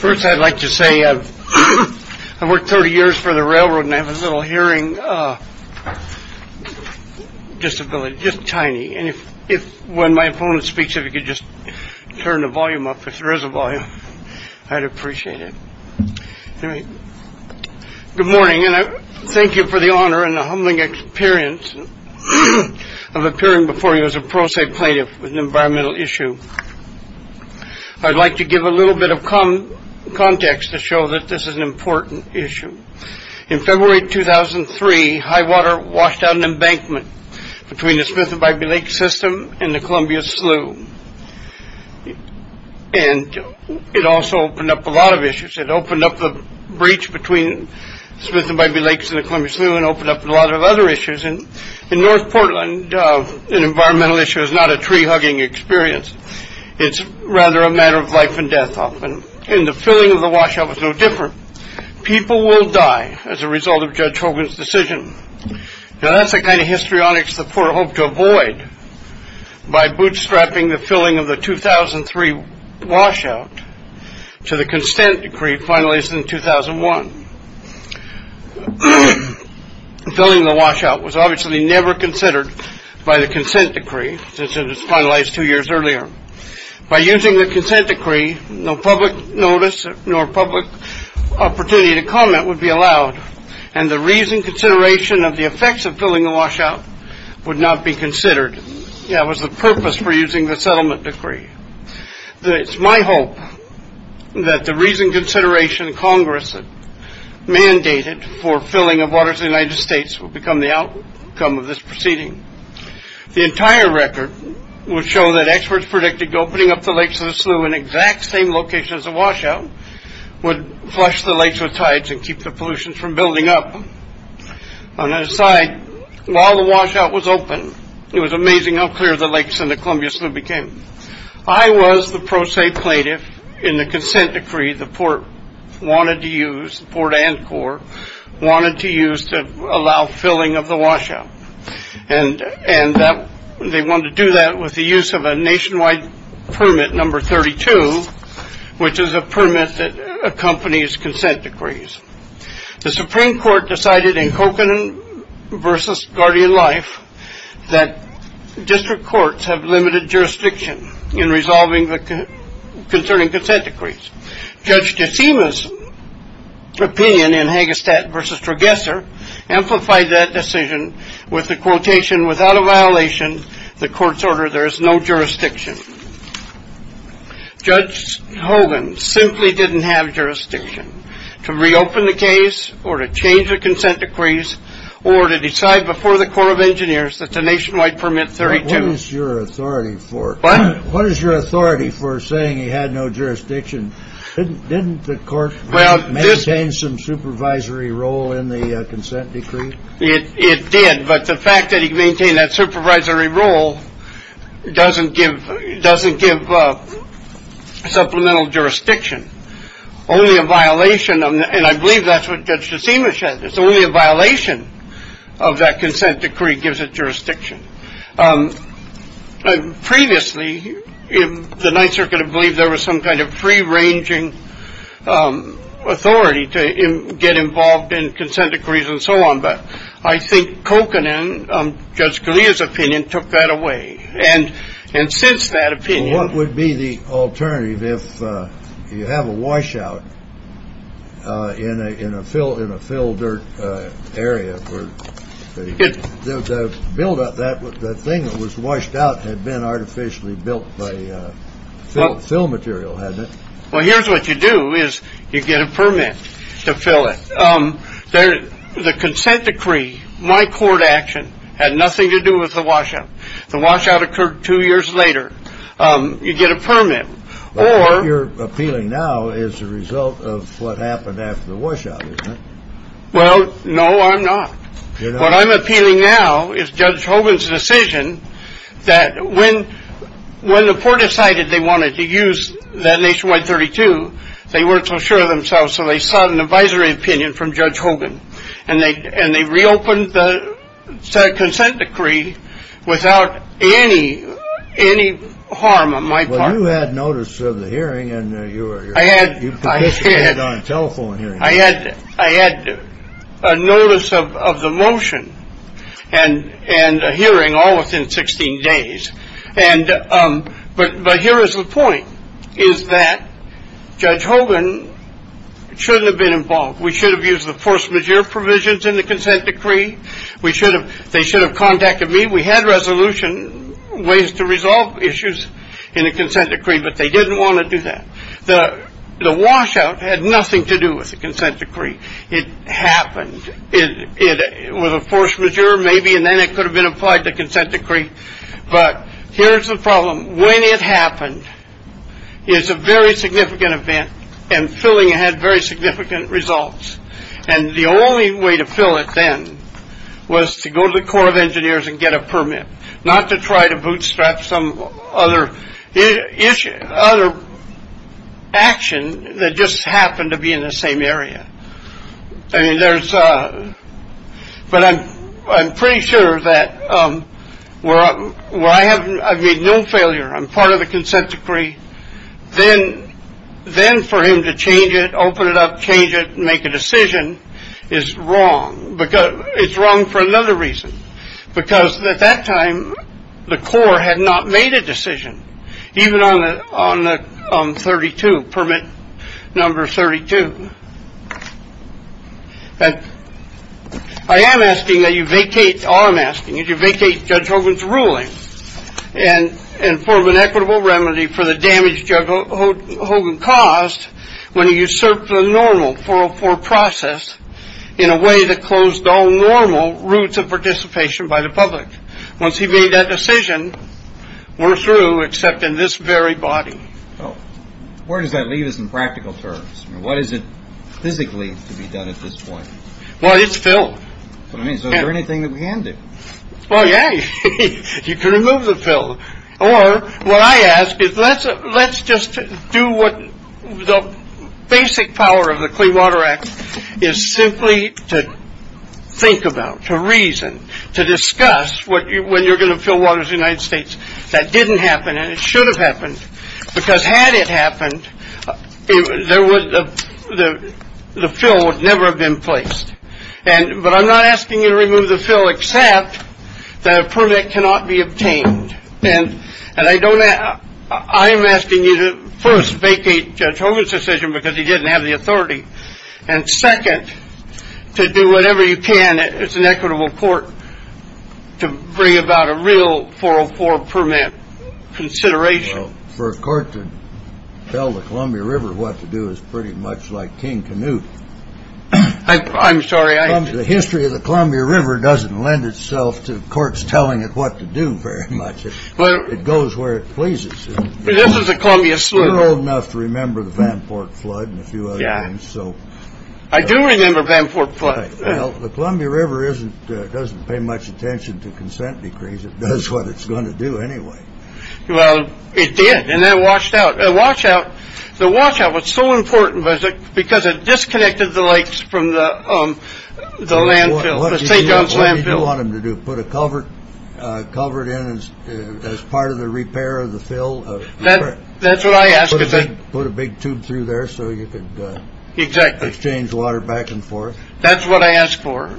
First, I'd like to say I've worked 30 years for the railroad and I have a little hearing disability, just tiny. And if when my opponent speaks, if you could just turn the volume up, if there is a volume, I'd appreciate it. Good morning. Thank you for the honor and the humbling experience of appearing before you as a pro se plaintiff with an environmental issue. I'd like to give a little bit of context to show that this is an important issue. In February 2003, high water washed out an embankment between the Smith and Bybee Lake system and the Columbia Slough. And it also opened up a lot of issues. It opened up the breach between Smith and Bybee Lakes and the Columbia Slough and opened up a lot of other issues. And in North Portland, an environmental issue is not a tree hugging experience. It's rather a matter of life and death. And the filling of the washout was no different. People will die as a result of Judge Hogan's decision. Now, that's the kind of histrionics the poor hope to avoid by bootstrapping the filling of the 2003 washout to the consent decree finalized in 2001. The filling of the washout was obviously never considered by the consent decree since it was finalized two years earlier. By using the consent decree, no public notice nor public opportunity to comment would be allowed. And the reason consideration of the effects of filling the washout would not be considered. That was the purpose for using the settlement decree. It's my hope that the reason consideration Congress mandated for filling of waters in the United States would become the outcome of this proceeding. The entire record would show that experts predicted opening up the lakes of the slough in exact same location as the washout would flush the lakes with tides and keep the pollutions from building up. On the other side, while the washout was open, it was amazing how clear the lakes and the Columbia Slough became. I was the pro se plaintiff in the consent decree the Port wanted to use, Port Anchor, wanted to use to allow filling of the washout. And they wanted to do that with the use of a nationwide permit number 32, which is a permit that accompanies consent decrees. The Supreme Court decided in Hogan versus Guardian Life that district courts have limited jurisdiction in resolving the concerning consent decrees. Judge DeSema's opinion in Hagestad versus Trageser amplified that decision with the quotation. Without a violation, the court's order, there is no jurisdiction. Judge Hogan simply didn't have jurisdiction to reopen the case or to change the consent decrees or to decide before the Court of Engineers that the nationwide permit 32. What is your authority for saying he had no jurisdiction? Didn't the court maintain some supervisory role in the consent decree? It did, but the fact that he maintained that supervisory role doesn't give doesn't give supplemental jurisdiction. Only a violation. And I believe that's what Judge DeSema said. It's only a violation of that consent decree gives it jurisdiction. Previously, the Ninth Circuit believed there was some kind of free ranging authority to get involved in consent decrees and so on. But I think Kokanen, Judge Correa's opinion, took that away. And and since that opinion, what would be the alternative? If you have a washout in a in a fill in a field or area where the buildup that the thing that was washed out had been artificially built by fill material. Well, here's what you do is you get a permit to fill it. The consent decree, my court action had nothing to do with the washout. The washout occurred two years later. You get a permit. Or you're appealing now as a result of what happened after the washout. Well, no, I'm not. What I'm appealing now is Judge Hogan's decision that when when the poor decided they wanted to use that nationwide 32, they weren't so sure of themselves. So they sought an advisory opinion from Judge Hogan. And they and they reopened the consent decree without any any harm on my part. You had notice of the hearing and you were I had I had on telephone here. I had I had a notice of the motion and and a hearing all within 16 days. And but but here is the point is that Judge Hogan shouldn't have been involved. We should have used the force majeure provisions in the consent decree. We should have. They should have contacted me. We had resolution ways to resolve issues in a consent decree, but they didn't want to do that. The the washout had nothing to do with the consent decree. It happened. It was a force majeure maybe. And then it could have been applied to consent decree. But here's the problem. When it happened is a very significant event and filling had very significant results. And the only way to fill it then was to go to the Corps of Engineers and get a permit, not to try to bootstrap some other issue, other action that just happened to be in the same area. I mean, there's but I'm I'm pretty sure that we're up. Why haven't I made no failure? I'm part of the consent decree. Then then for him to change it, open it up, change it, make a decision is wrong because it's wrong for another reason. Because at that time, the Corps had not made a decision, even on the on the thirty two permit number thirty two. And I am asking that you vacate. All I'm asking is you vacate Judge Hogan's ruling and inform an equitable remedy for the damage. Judge Hogan caused when he usurped the normal 404 process in a way that closed all normal routes of participation by the public. Once he made that decision, we're through except in this very body. Oh, where does that leave us in practical terms? What is it physically to be done at this point? Well, it's Phil. I mean, is there anything that we can do? Well, yeah, you can remove the film or what I ask is let's let's just do what the basic power of the Clean Water Act is simply to think about, to reason, to discuss what you when you're going to fill waters, United States. That didn't happen. And it should have happened because had it happened, there was the the film would never have been placed. And but I'm not asking you to remove the film, except that a permit cannot be obtained. And and I don't know. I'm asking you to first vacate Judge Hogan's decision because he didn't have the authority. And second, to do whatever you can. It's an equitable court to bring about a real 404 permit consideration for a court to tell the Columbia River what to do is pretty much like King Canute. I'm sorry. The history of the Columbia River doesn't lend itself to courts telling it what to do very much. Well, it goes where it pleases. This is a Columbia. So you're old enough to remember the Vanport flood and a few. Yeah. So I do remember Vanport. Well, the Columbia River isn't doesn't pay much attention to consent decrees. It does what it's going to do anyway. Well, it did. And then washed out a washout. The washout was so important because it disconnected the lakes from the landfill. You want them to do. Put a cover covered in as part of the repair of the fill. That's what I asked. Put a big tube through there so you could exchange water back and forth. That's what I asked for.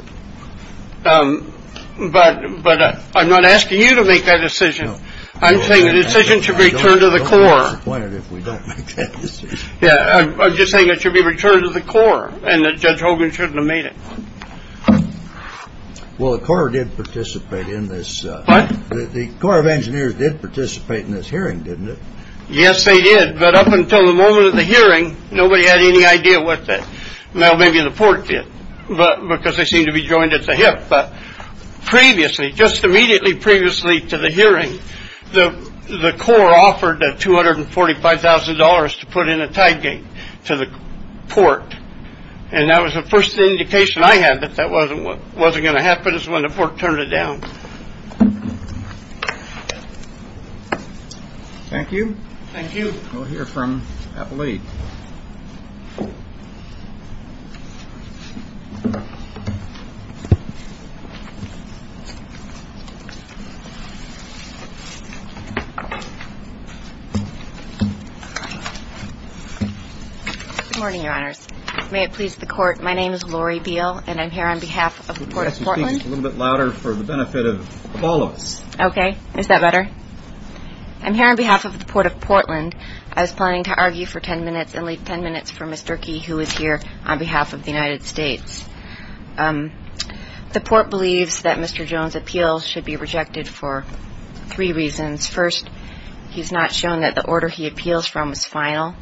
But but I'm not asking you to make that decision. I'm saying the decision should be returned to the Corps. Yeah. I'm just saying it should be returned to the Corps and Judge Hogan shouldn't have made it. Well, the Corps did participate in this. The Corps of Engineers did participate in this hearing, didn't it? Yes, they did. But up until the moment of the hearing, nobody had any idea what that. Now, maybe the port did, but because they seem to be joined at the hip. But previously, just immediately previously to the hearing, the Corps offered two hundred and forty five thousand dollars to put in a tide gate to the port. And that was the first indication I had that that wasn't what wasn't going to happen is when the port turned it down. Thank you. Thank you. We'll hear from Abilene. Good morning, Your Honors. May it please the court. My name is Lori Beal and I'm here on behalf of the court. A little bit louder for the benefit of all of us. OK. Is that better? I'm here on behalf of the port of Portland. I was planning to argue for 10 minutes and leave 10 minutes for Mr. Key, who is here on behalf of the United States. The port believes that Mr. Jones appeals should be rejected for three reasons. First, he's not shown that the order he appeals from is final.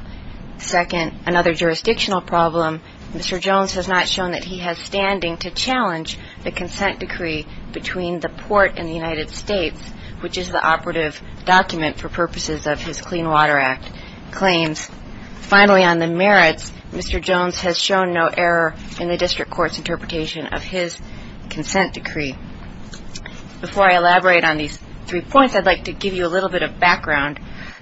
Second, another jurisdictional problem. Mr. Jones has not shown that he has standing to challenge the consent decree between the port and the United States, which is the operative document for purposes of his Clean Water Act claims. Finally, on the merits, Mr. Jones has shown no error in the district court's interpretation of his consent decree. Before I elaborate on these three points, I'd like to give you a little bit of background.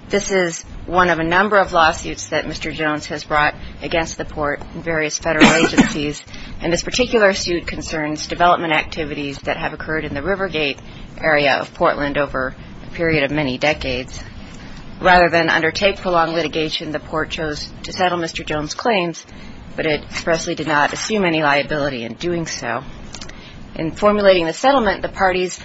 This is one of a number of lawsuits that Mr. Jones has brought against the port and various federal agencies, and this particular suit concerns development activities that have occurred in the Rivergate area of Portland over a period of many decades. Rather than undertake prolonged litigation, the port chose to settle Mr. Jones' claims, but it expressly did not assume any liability in doing so. In formulating the settlement, the parties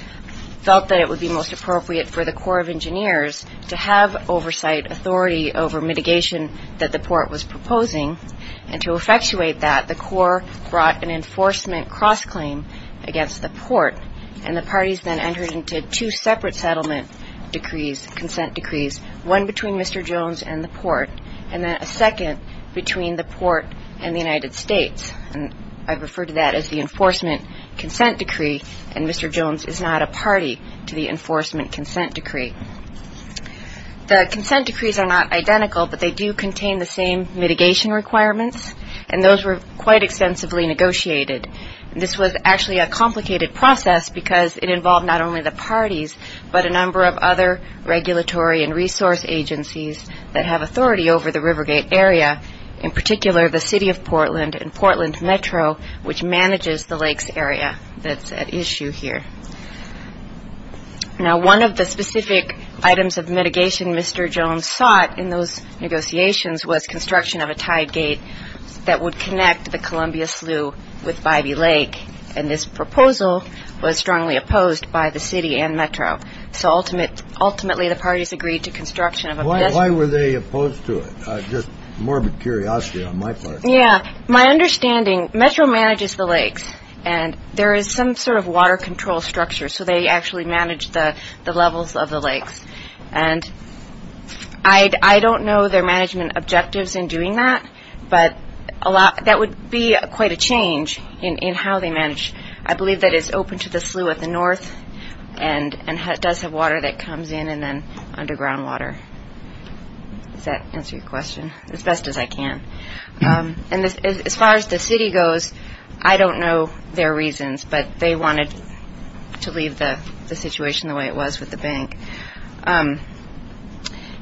felt that it would be most appropriate for the Corps of Engineers to have oversight authority over mitigation that the port was proposing, and to effectuate that, the Corps brought an enforcement cross-claim against the port, and the parties then entered into two separate settlement decrees, consent decrees, one between Mr. Jones and the port, and then a second between the port and the United States. I refer to that as the enforcement consent decree, and Mr. Jones is not a party to the enforcement consent decree. The consent decrees are not identical, but they do contain the same mitigation requirements, and those were quite extensively negotiated. This was actually a complicated process because it involved not only the parties, but a number of other regulatory and resource agencies that have authority over the Rivergate area, in particular the city of Portland and Portland Metro, which manages the lakes area that's at issue here. Now, one of the specific items of mitigation Mr. Jones sought in those negotiations was construction of a tide gate that would connect the Columbia Slough with Bybee Lake, and this proposal was strongly opposed by the city and Metro. So ultimately, the parties agreed to construction of a bridge. Why were they opposed to it? Just morbid curiosity on my part. Yeah, my understanding, Metro manages the lakes, and there is some sort of water control structure, so they actually manage the levels of the lakes, and I don't know their management objectives in doing that, but that would be quite a change in how they manage. I believe that it's open to the slough at the north, and it does have water that comes in and then underground water. Does that answer your question as best as I can? And as far as the city goes, I don't know their reasons, but they wanted to leave the situation the way it was with the bank.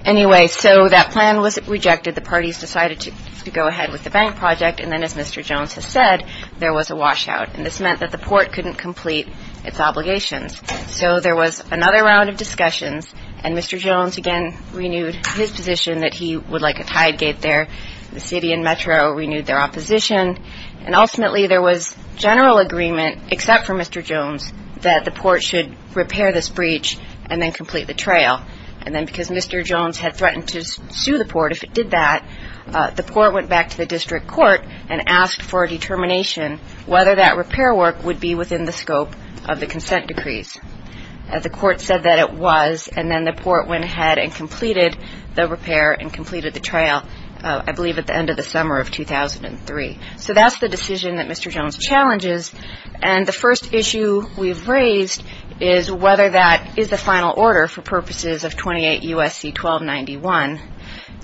Anyway, so that plan was rejected. The parties decided to go ahead with the bank project, and then, as Mr. Jones has said, there was a washout, and this meant that the port couldn't complete its obligations. So there was another round of discussions, and Mr. Jones again renewed his position that he would like a tide gate there. The city and Metro renewed their opposition, and ultimately, there was general agreement, except for Mr. Jones, that the port should repair this breach and then complete the trail. And then because Mr. Jones had threatened to sue the port if it did that, the port went back to the district court and asked for a determination whether that repair work would be within the scope of the consent decrees. The court said that it was, and then the port went ahead and completed the repair and completed the trail, I believe, at the end of the summer of 2003. So that's the decision that Mr. Jones challenges, and the first issue we've raised is whether that is the final order for purposes of 28 U.S.C. 1291.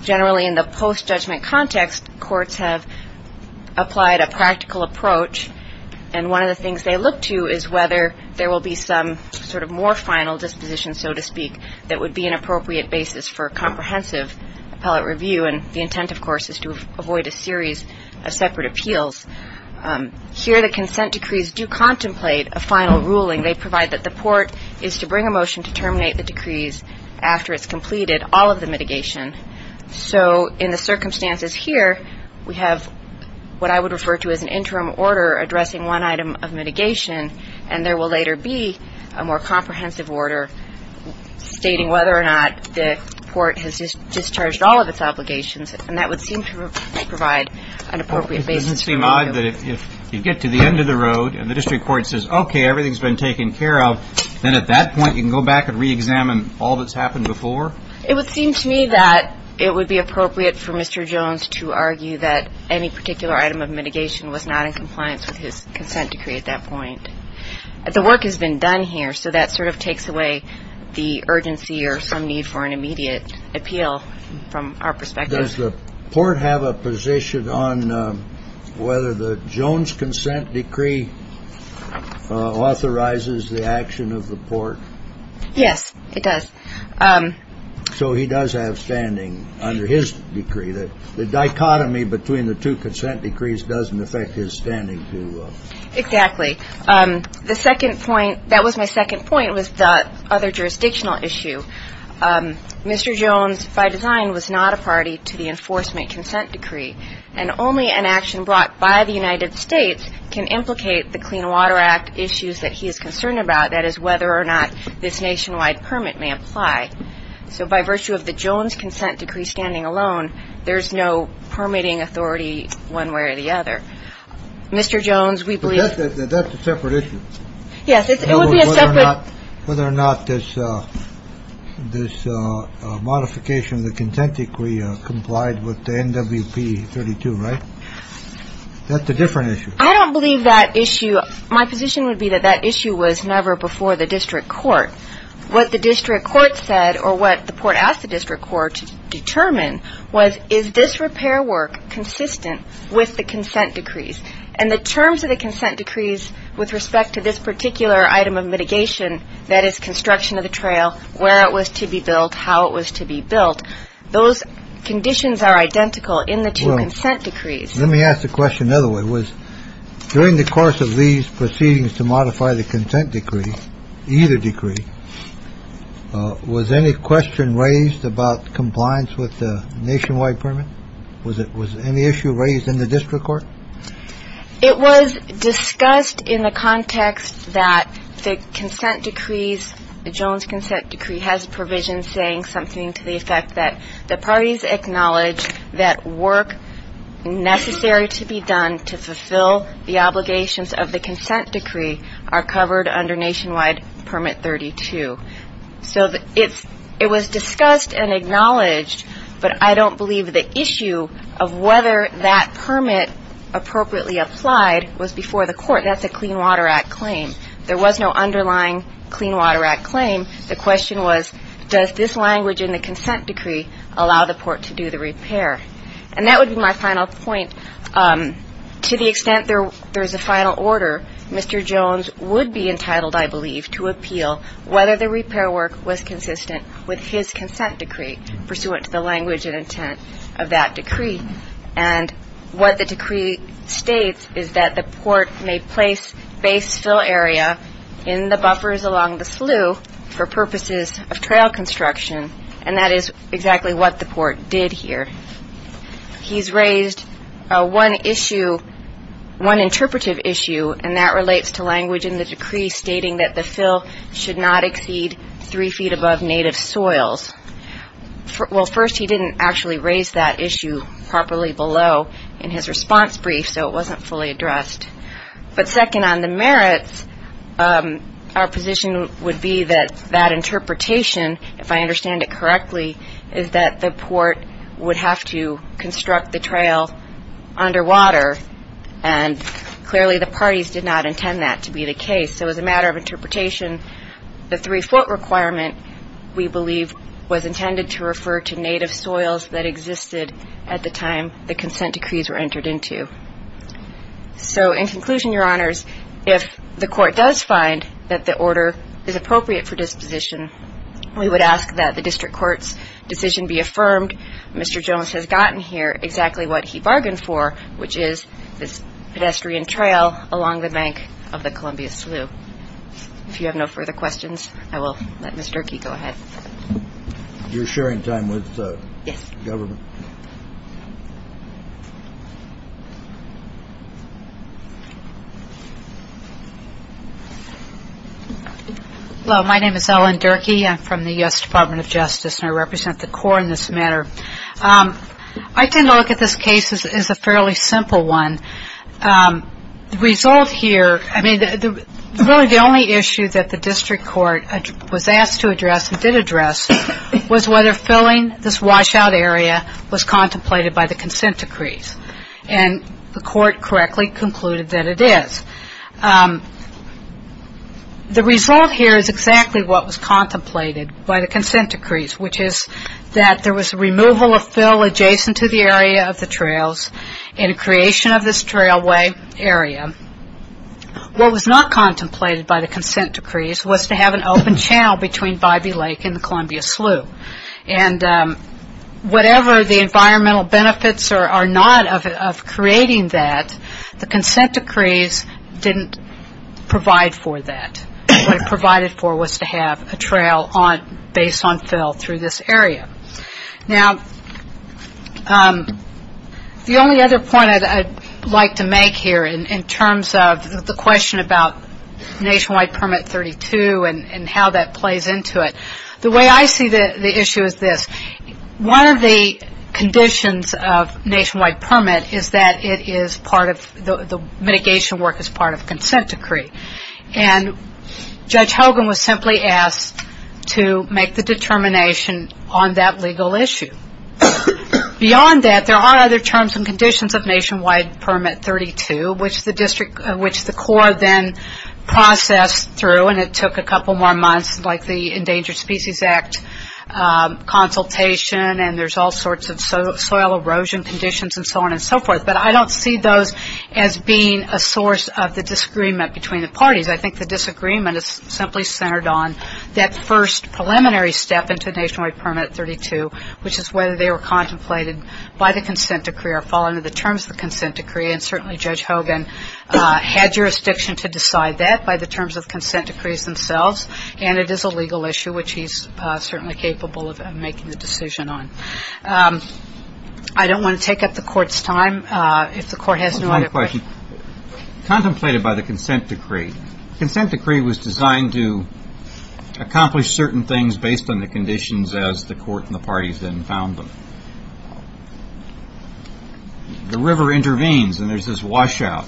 Generally, in the post-judgment context, courts have applied a practical approach, and one of the things they look to is whether there will be some sort of more final disposition, so to speak, that would be an appropriate basis for a comprehensive appellate review. And the intent, of course, is to avoid a series of separate appeals. Here, the consent decrees do contemplate a final ruling. They provide that the port is to bring a motion to terminate the decrees after it's completed all of the mitigation. So in the circumstances here, we have what I would refer to as an interim order addressing one item of mitigation, and there will later be a more comprehensive order stating whether or not the port has discharged all of its obligations, and that would seem to provide an appropriate basis for a review. So you said that if you get to the end of the road and the district court says, okay, everything's been taken care of, then at that point you can go back and reexamine all that's happened before? It would seem to me that it would be appropriate for Mr. Jones to argue that any particular item of mitigation was not in compliance with his consent decree at that point. The work has been done here, so that sort of takes away the urgency or some need for an immediate appeal from our perspective. Does the port have a position on whether the Jones consent decree authorizes the action of the port? Yes, it does. So he does have standing under his decree that the dichotomy between the two consent decrees doesn't affect his standing? Exactly. The second point, that was my second point, was the other jurisdictional issue. Mr. Jones, by design, was not a party to the enforcement consent decree, and only an action brought by the United States can implicate the Clean Water Act issues that he is concerned about. That is, whether or not this nationwide permit may apply. So by virtue of the Jones consent decree standing alone, there is no permitting authority one way or the other. Mr. Jones, we believe that that's a separate issue. Whether or not this this modification of the consent decree complied with the NWP 32, right? That's a different issue. I don't believe that issue. My position would be that that issue was never before the district court. What the district court said or what the port asked the district court to determine was, is this repair work consistent with the consent decrees and the terms of the consent decrees? With respect to this particular item of mitigation, that is, construction of the trail, where it was to be built, how it was to be built. Those conditions are identical in the two consent decrees. Let me ask the question the other way. Was during the course of these proceedings to modify the consent decree, either decree, was any question raised about compliance with the nationwide permit? Was it was any issue raised in the district court? It was discussed in the context that the consent decrees, the Jones consent decree, has provisions saying something to the effect that the parties acknowledge that work necessary to be done to fulfill the obligations of the consent decree are covered under Nationwide Permit 32. So it was discussed and acknowledged, but I don't believe the issue of whether that permit appropriately applied was before the court. That's a Clean Water Act claim. There was no underlying Clean Water Act claim. The question was, does this language in the consent decree allow the port to do the repair? And that would be my final point. To the extent there is a final order, Mr. Jones would be entitled, I believe, to appeal whether the repair work was consistent with his consent decree, pursuant to the language and intent of that decree. And what the decree states is that the port may place base fill area in the buffers along the slough for purposes of trail construction, and that is exactly what the port did here. He's raised one issue, one interpretive issue, and that relates to language in the decree stating that the fill should not exceed three feet above native soils. Well, first, he didn't actually raise that issue properly below in his response brief, so it wasn't fully addressed. But second, on the merits, our position would be that that interpretation, if I understand it correctly, is that the port would have to construct the trail underwater, and clearly the parties did not intend that to be the case. So as a matter of interpretation, the three-foot requirement, we believe, was intended to refer to native soils that existed at the time the consent decrees were entered into. So in conclusion, Your Honors, if the court does find that the order is appropriate for disposition, we would ask that the district court's decision be affirmed. Mr. Jones has gotten here exactly what he bargained for, which is this pedestrian trail along the bank of the Columbia Slough. If you have no further questions, I will let Ms. Durkee go ahead. You're sharing time with the government? Yes. Hello. My name is Ellen Durkee. I'm from the U.S. Department of Justice, and I represent the court in this matter. I tend to look at this case as a fairly simple one. The result here, I mean, really the only issue that the district court was asked to address was whether filling this washout area was contemplated by the consent decrees, and the court correctly concluded that it is. The result here is exactly what was contemplated by the consent decrees, which is that there was a removal of fill adjacent to the area of the trails and a creation of this trailway area. What was not contemplated by the consent decrees was to have an open channel between Bybee Lake and the Columbia Slough, and whatever the environmental benefits are not of creating that, the consent decrees didn't provide for that. What it provided for was to have a trail based on fill through this area. Now, the only other point I'd like to make here in terms of the question about Nationwide Permit 32 and how that plays into it, the way I see the issue is this. One of the conditions of Nationwide Permit is that it is part of the mitigation work as part of consent decree, and Judge Hogan was simply asked to make the determination on that legal issue. Beyond that, there are other terms and conditions of Nationwide Permit 32, which the district, which the court then processed through, and it took a couple more months like the Endangered Species Act consultation, and there's all sorts of soil erosion conditions and so on and so forth, but I don't see those as being a source of the disagreement between the parties. I think the disagreement is simply centered on that first preliminary step into Nationwide Permit 32, which is whether they were contemplated by the consent decree or fall under the terms of the consent decree, and certainly Judge Hogan had jurisdiction to decide that by the terms of consent decrees themselves, and it is a legal issue, which he's certainly capable of making the decision on. I don't want to take up the court's time. If the court has no other questions. One question. Contemplated by the consent decree, the consent decree was designed to accomplish certain things based on the conditions as the court and the parties then found them. The river intervenes, and there's this washout.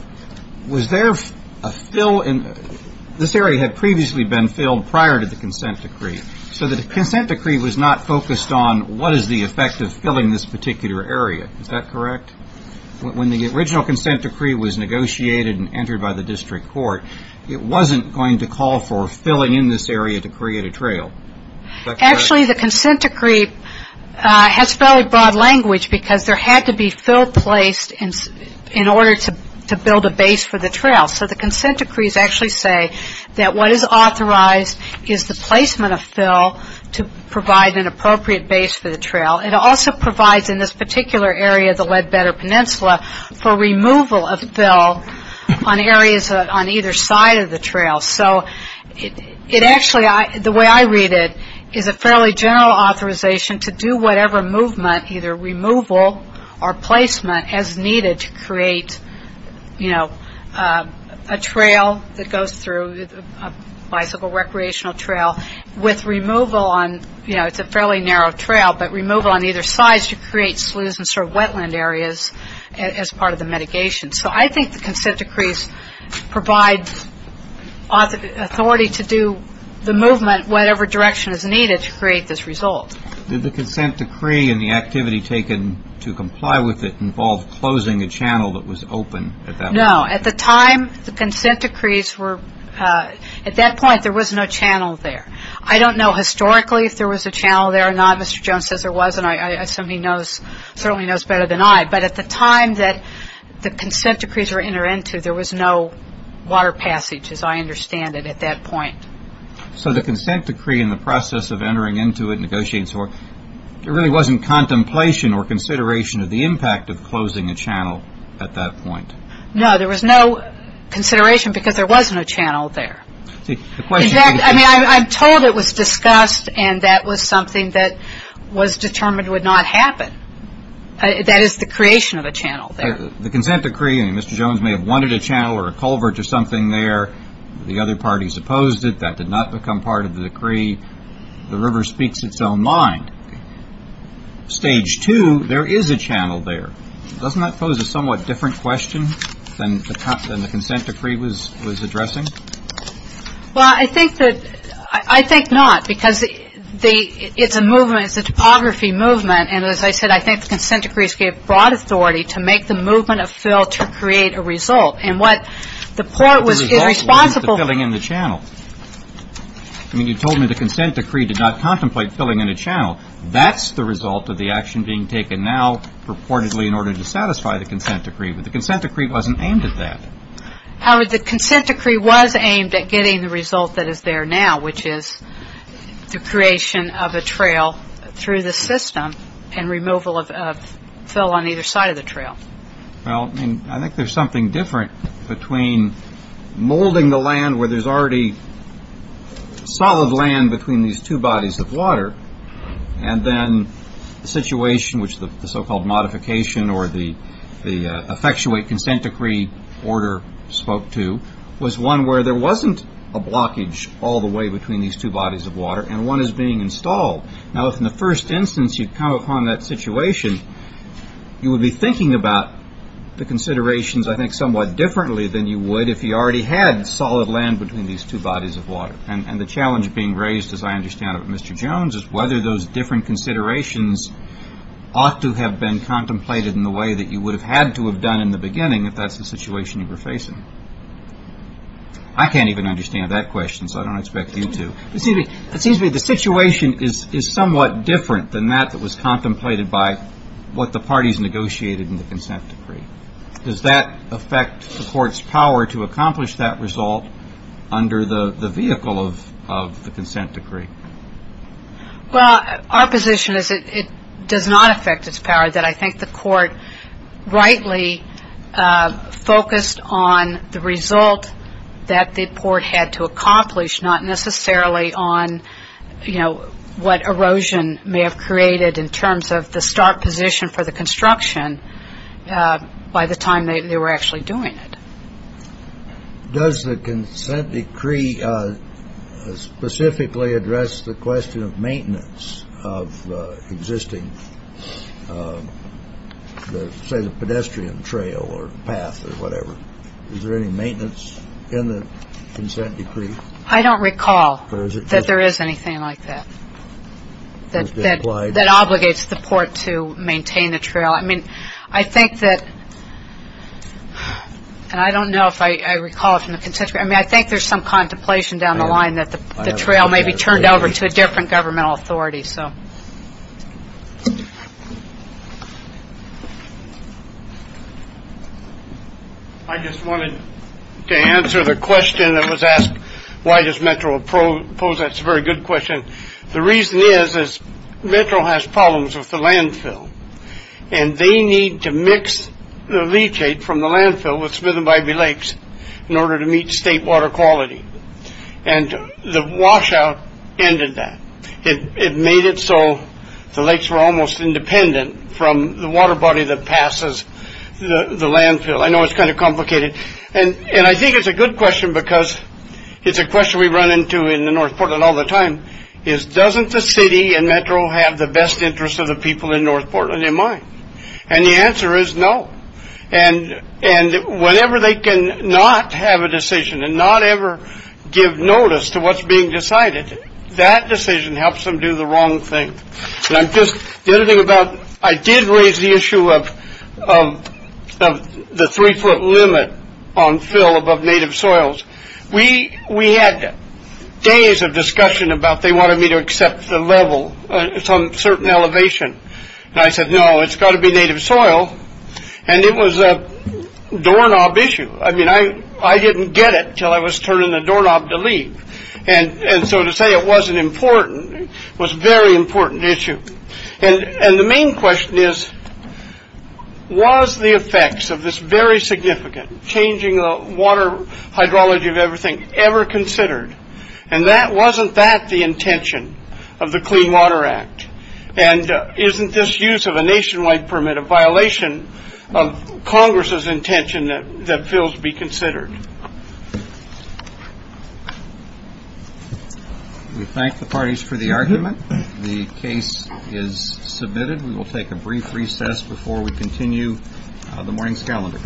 Was there a fill? This area had previously been filled prior to the consent decree, so the consent decree was not focused on what is the effect of filling this particular area. Is that correct? When the original consent decree was negotiated and entered by the district court, it wasn't going to call for filling in this area to create a trail. Is that correct? Actually, the consent decree has fairly broad language because there had to be fill placed in order to build a base for the trail, so the consent decrees actually say that what is authorized is the placement of fill to provide an appropriate base for the trail. It also provides in this particular area, the Leadbetter Peninsula, for removal of fill on areas on either side of the trail. So it actually, the way I read it, is a fairly general authorization to do whatever movement, either removal or placement as needed to create, you know, a trail that goes through, a bicycle recreational trail, with removal on, you know, it's a fairly narrow trail, but removal on either side to create sloughs and sort of wetland areas as part of the mitigation. So I think the consent decrees provide authority to do the movement whatever direction is needed to create this result. Did the consent decree and the activity taken to comply with it involve closing a channel that was open at that point? No. At the time, the consent decrees were, at that point, there was no channel there. I don't know historically if there was a channel there or not. Mr. Jones says there was, and I assume he knows, certainly knows better than I. But at the time that the consent decrees were entered into, there was no water passage, as I understand it, at that point. So the consent decree and the process of entering into it, negotiating, there really wasn't contemplation or consideration of the impact of closing a channel at that point? No, there was no consideration because there wasn't a channel there. I mean, I'm told it was discussed and that was something that was determined would not happen. That is the creation of a channel there. The consent decree, I mean, Mr. Jones may have wanted a channel or a culvert or something there. The other parties opposed it. That did not become part of the decree. The river speaks its own mind. Stage two, there is a channel there. Doesn't that pose a somewhat different question than the consent decree was addressing? Well, I think not because it's a movement, it's a topography movement. And as I said, I think the consent decrees gave broad authority to make the movement of fill to create a result. And what the port was irresponsible. But the result was the filling in the channel. I mean, you told me the consent decree did not contemplate filling in a channel. That's the result of the action being taken now purportedly in order to satisfy the consent decree. But the consent decree wasn't aimed at that. The consent decree was aimed at getting the result that is there now, which is the creation of a trail through the system and removal of fill on either side of the trail. Well, I think there's something different between molding the land where there's already solid land between these two bodies of water and then the situation which the so-called modification or the effectuate consent decree order spoke to was one where there wasn't a blockage all the way between these two bodies of water and one is being installed. Now, if in the first instance you'd come upon that situation, you would be thinking about the considerations, I think, somewhat differently than you would if you already had solid land between these two bodies of water. And the challenge being raised, as I understand it, Mr. Jones, is whether those different considerations ought to have been contemplated in the way that you would have had to have done in the beginning, if that's the situation you were facing. I can't even understand that question, so I don't expect you to. It seems to me the situation is somewhat different than that that was contemplated by what the parties negotiated in the consent decree. Does that affect the court's power to accomplish that result under the vehicle of the consent decree? Well, our position is it does not affect its power, that I think the court rightly focused on the result that the court had to accomplish, not necessarily on, you know, what erosion may have created in terms of the start position for the construction by the time they were actually doing it. Does the consent decree specifically address the question of maintenance of existing pedestrian trail or path or whatever? Is there any maintenance in the consent decree? I don't recall that there is anything like that, that obligates the port to maintain the trail. I mean, I think that, and I don't know if I recall it from the consent decree, I mean, I think there's some contemplation down the line that the trail may be turned over to a different governmental authority. I just wanted to answer the question that was asked, why does Metro oppose that? It's a very good question. The reason is, is Metro has problems with the landfill, and they need to mix the leachate from the landfill with Smith and Bybee Lakes in order to meet state water quality. And the washout ended that. It made it so the lakes were almost independent from the water body that passes the landfill. I know it's kind of complicated. And I think it's a good question because it's a question we run into in the North Portland all the time. It's doesn't the city and Metro have the best interests of the people in North Portland in mind? And the answer is no. And whenever they cannot have a decision and not ever give notice to what's being decided, that decision helps them do the wrong thing. And I'm just, the other thing about, I did raise the issue of the three-foot limit on fill above native soils. We had days of discussion about they wanted me to accept the level, some certain elevation. And I said, no, it's got to be native soil. And it was a doorknob issue. I mean, I didn't get it until I was turning the doorknob to leave. And so to say it wasn't important was a very important issue. And the main question is, was the effects of this very significant changing the water hydrology of everything ever considered? And wasn't that the intention of the Clean Water Act? And isn't this use of a nationwide permit a violation of Congress's intention that fills be considered? We thank the parties for the argument. The case is submitted. We will take a brief recess before we continue the morning's calendar.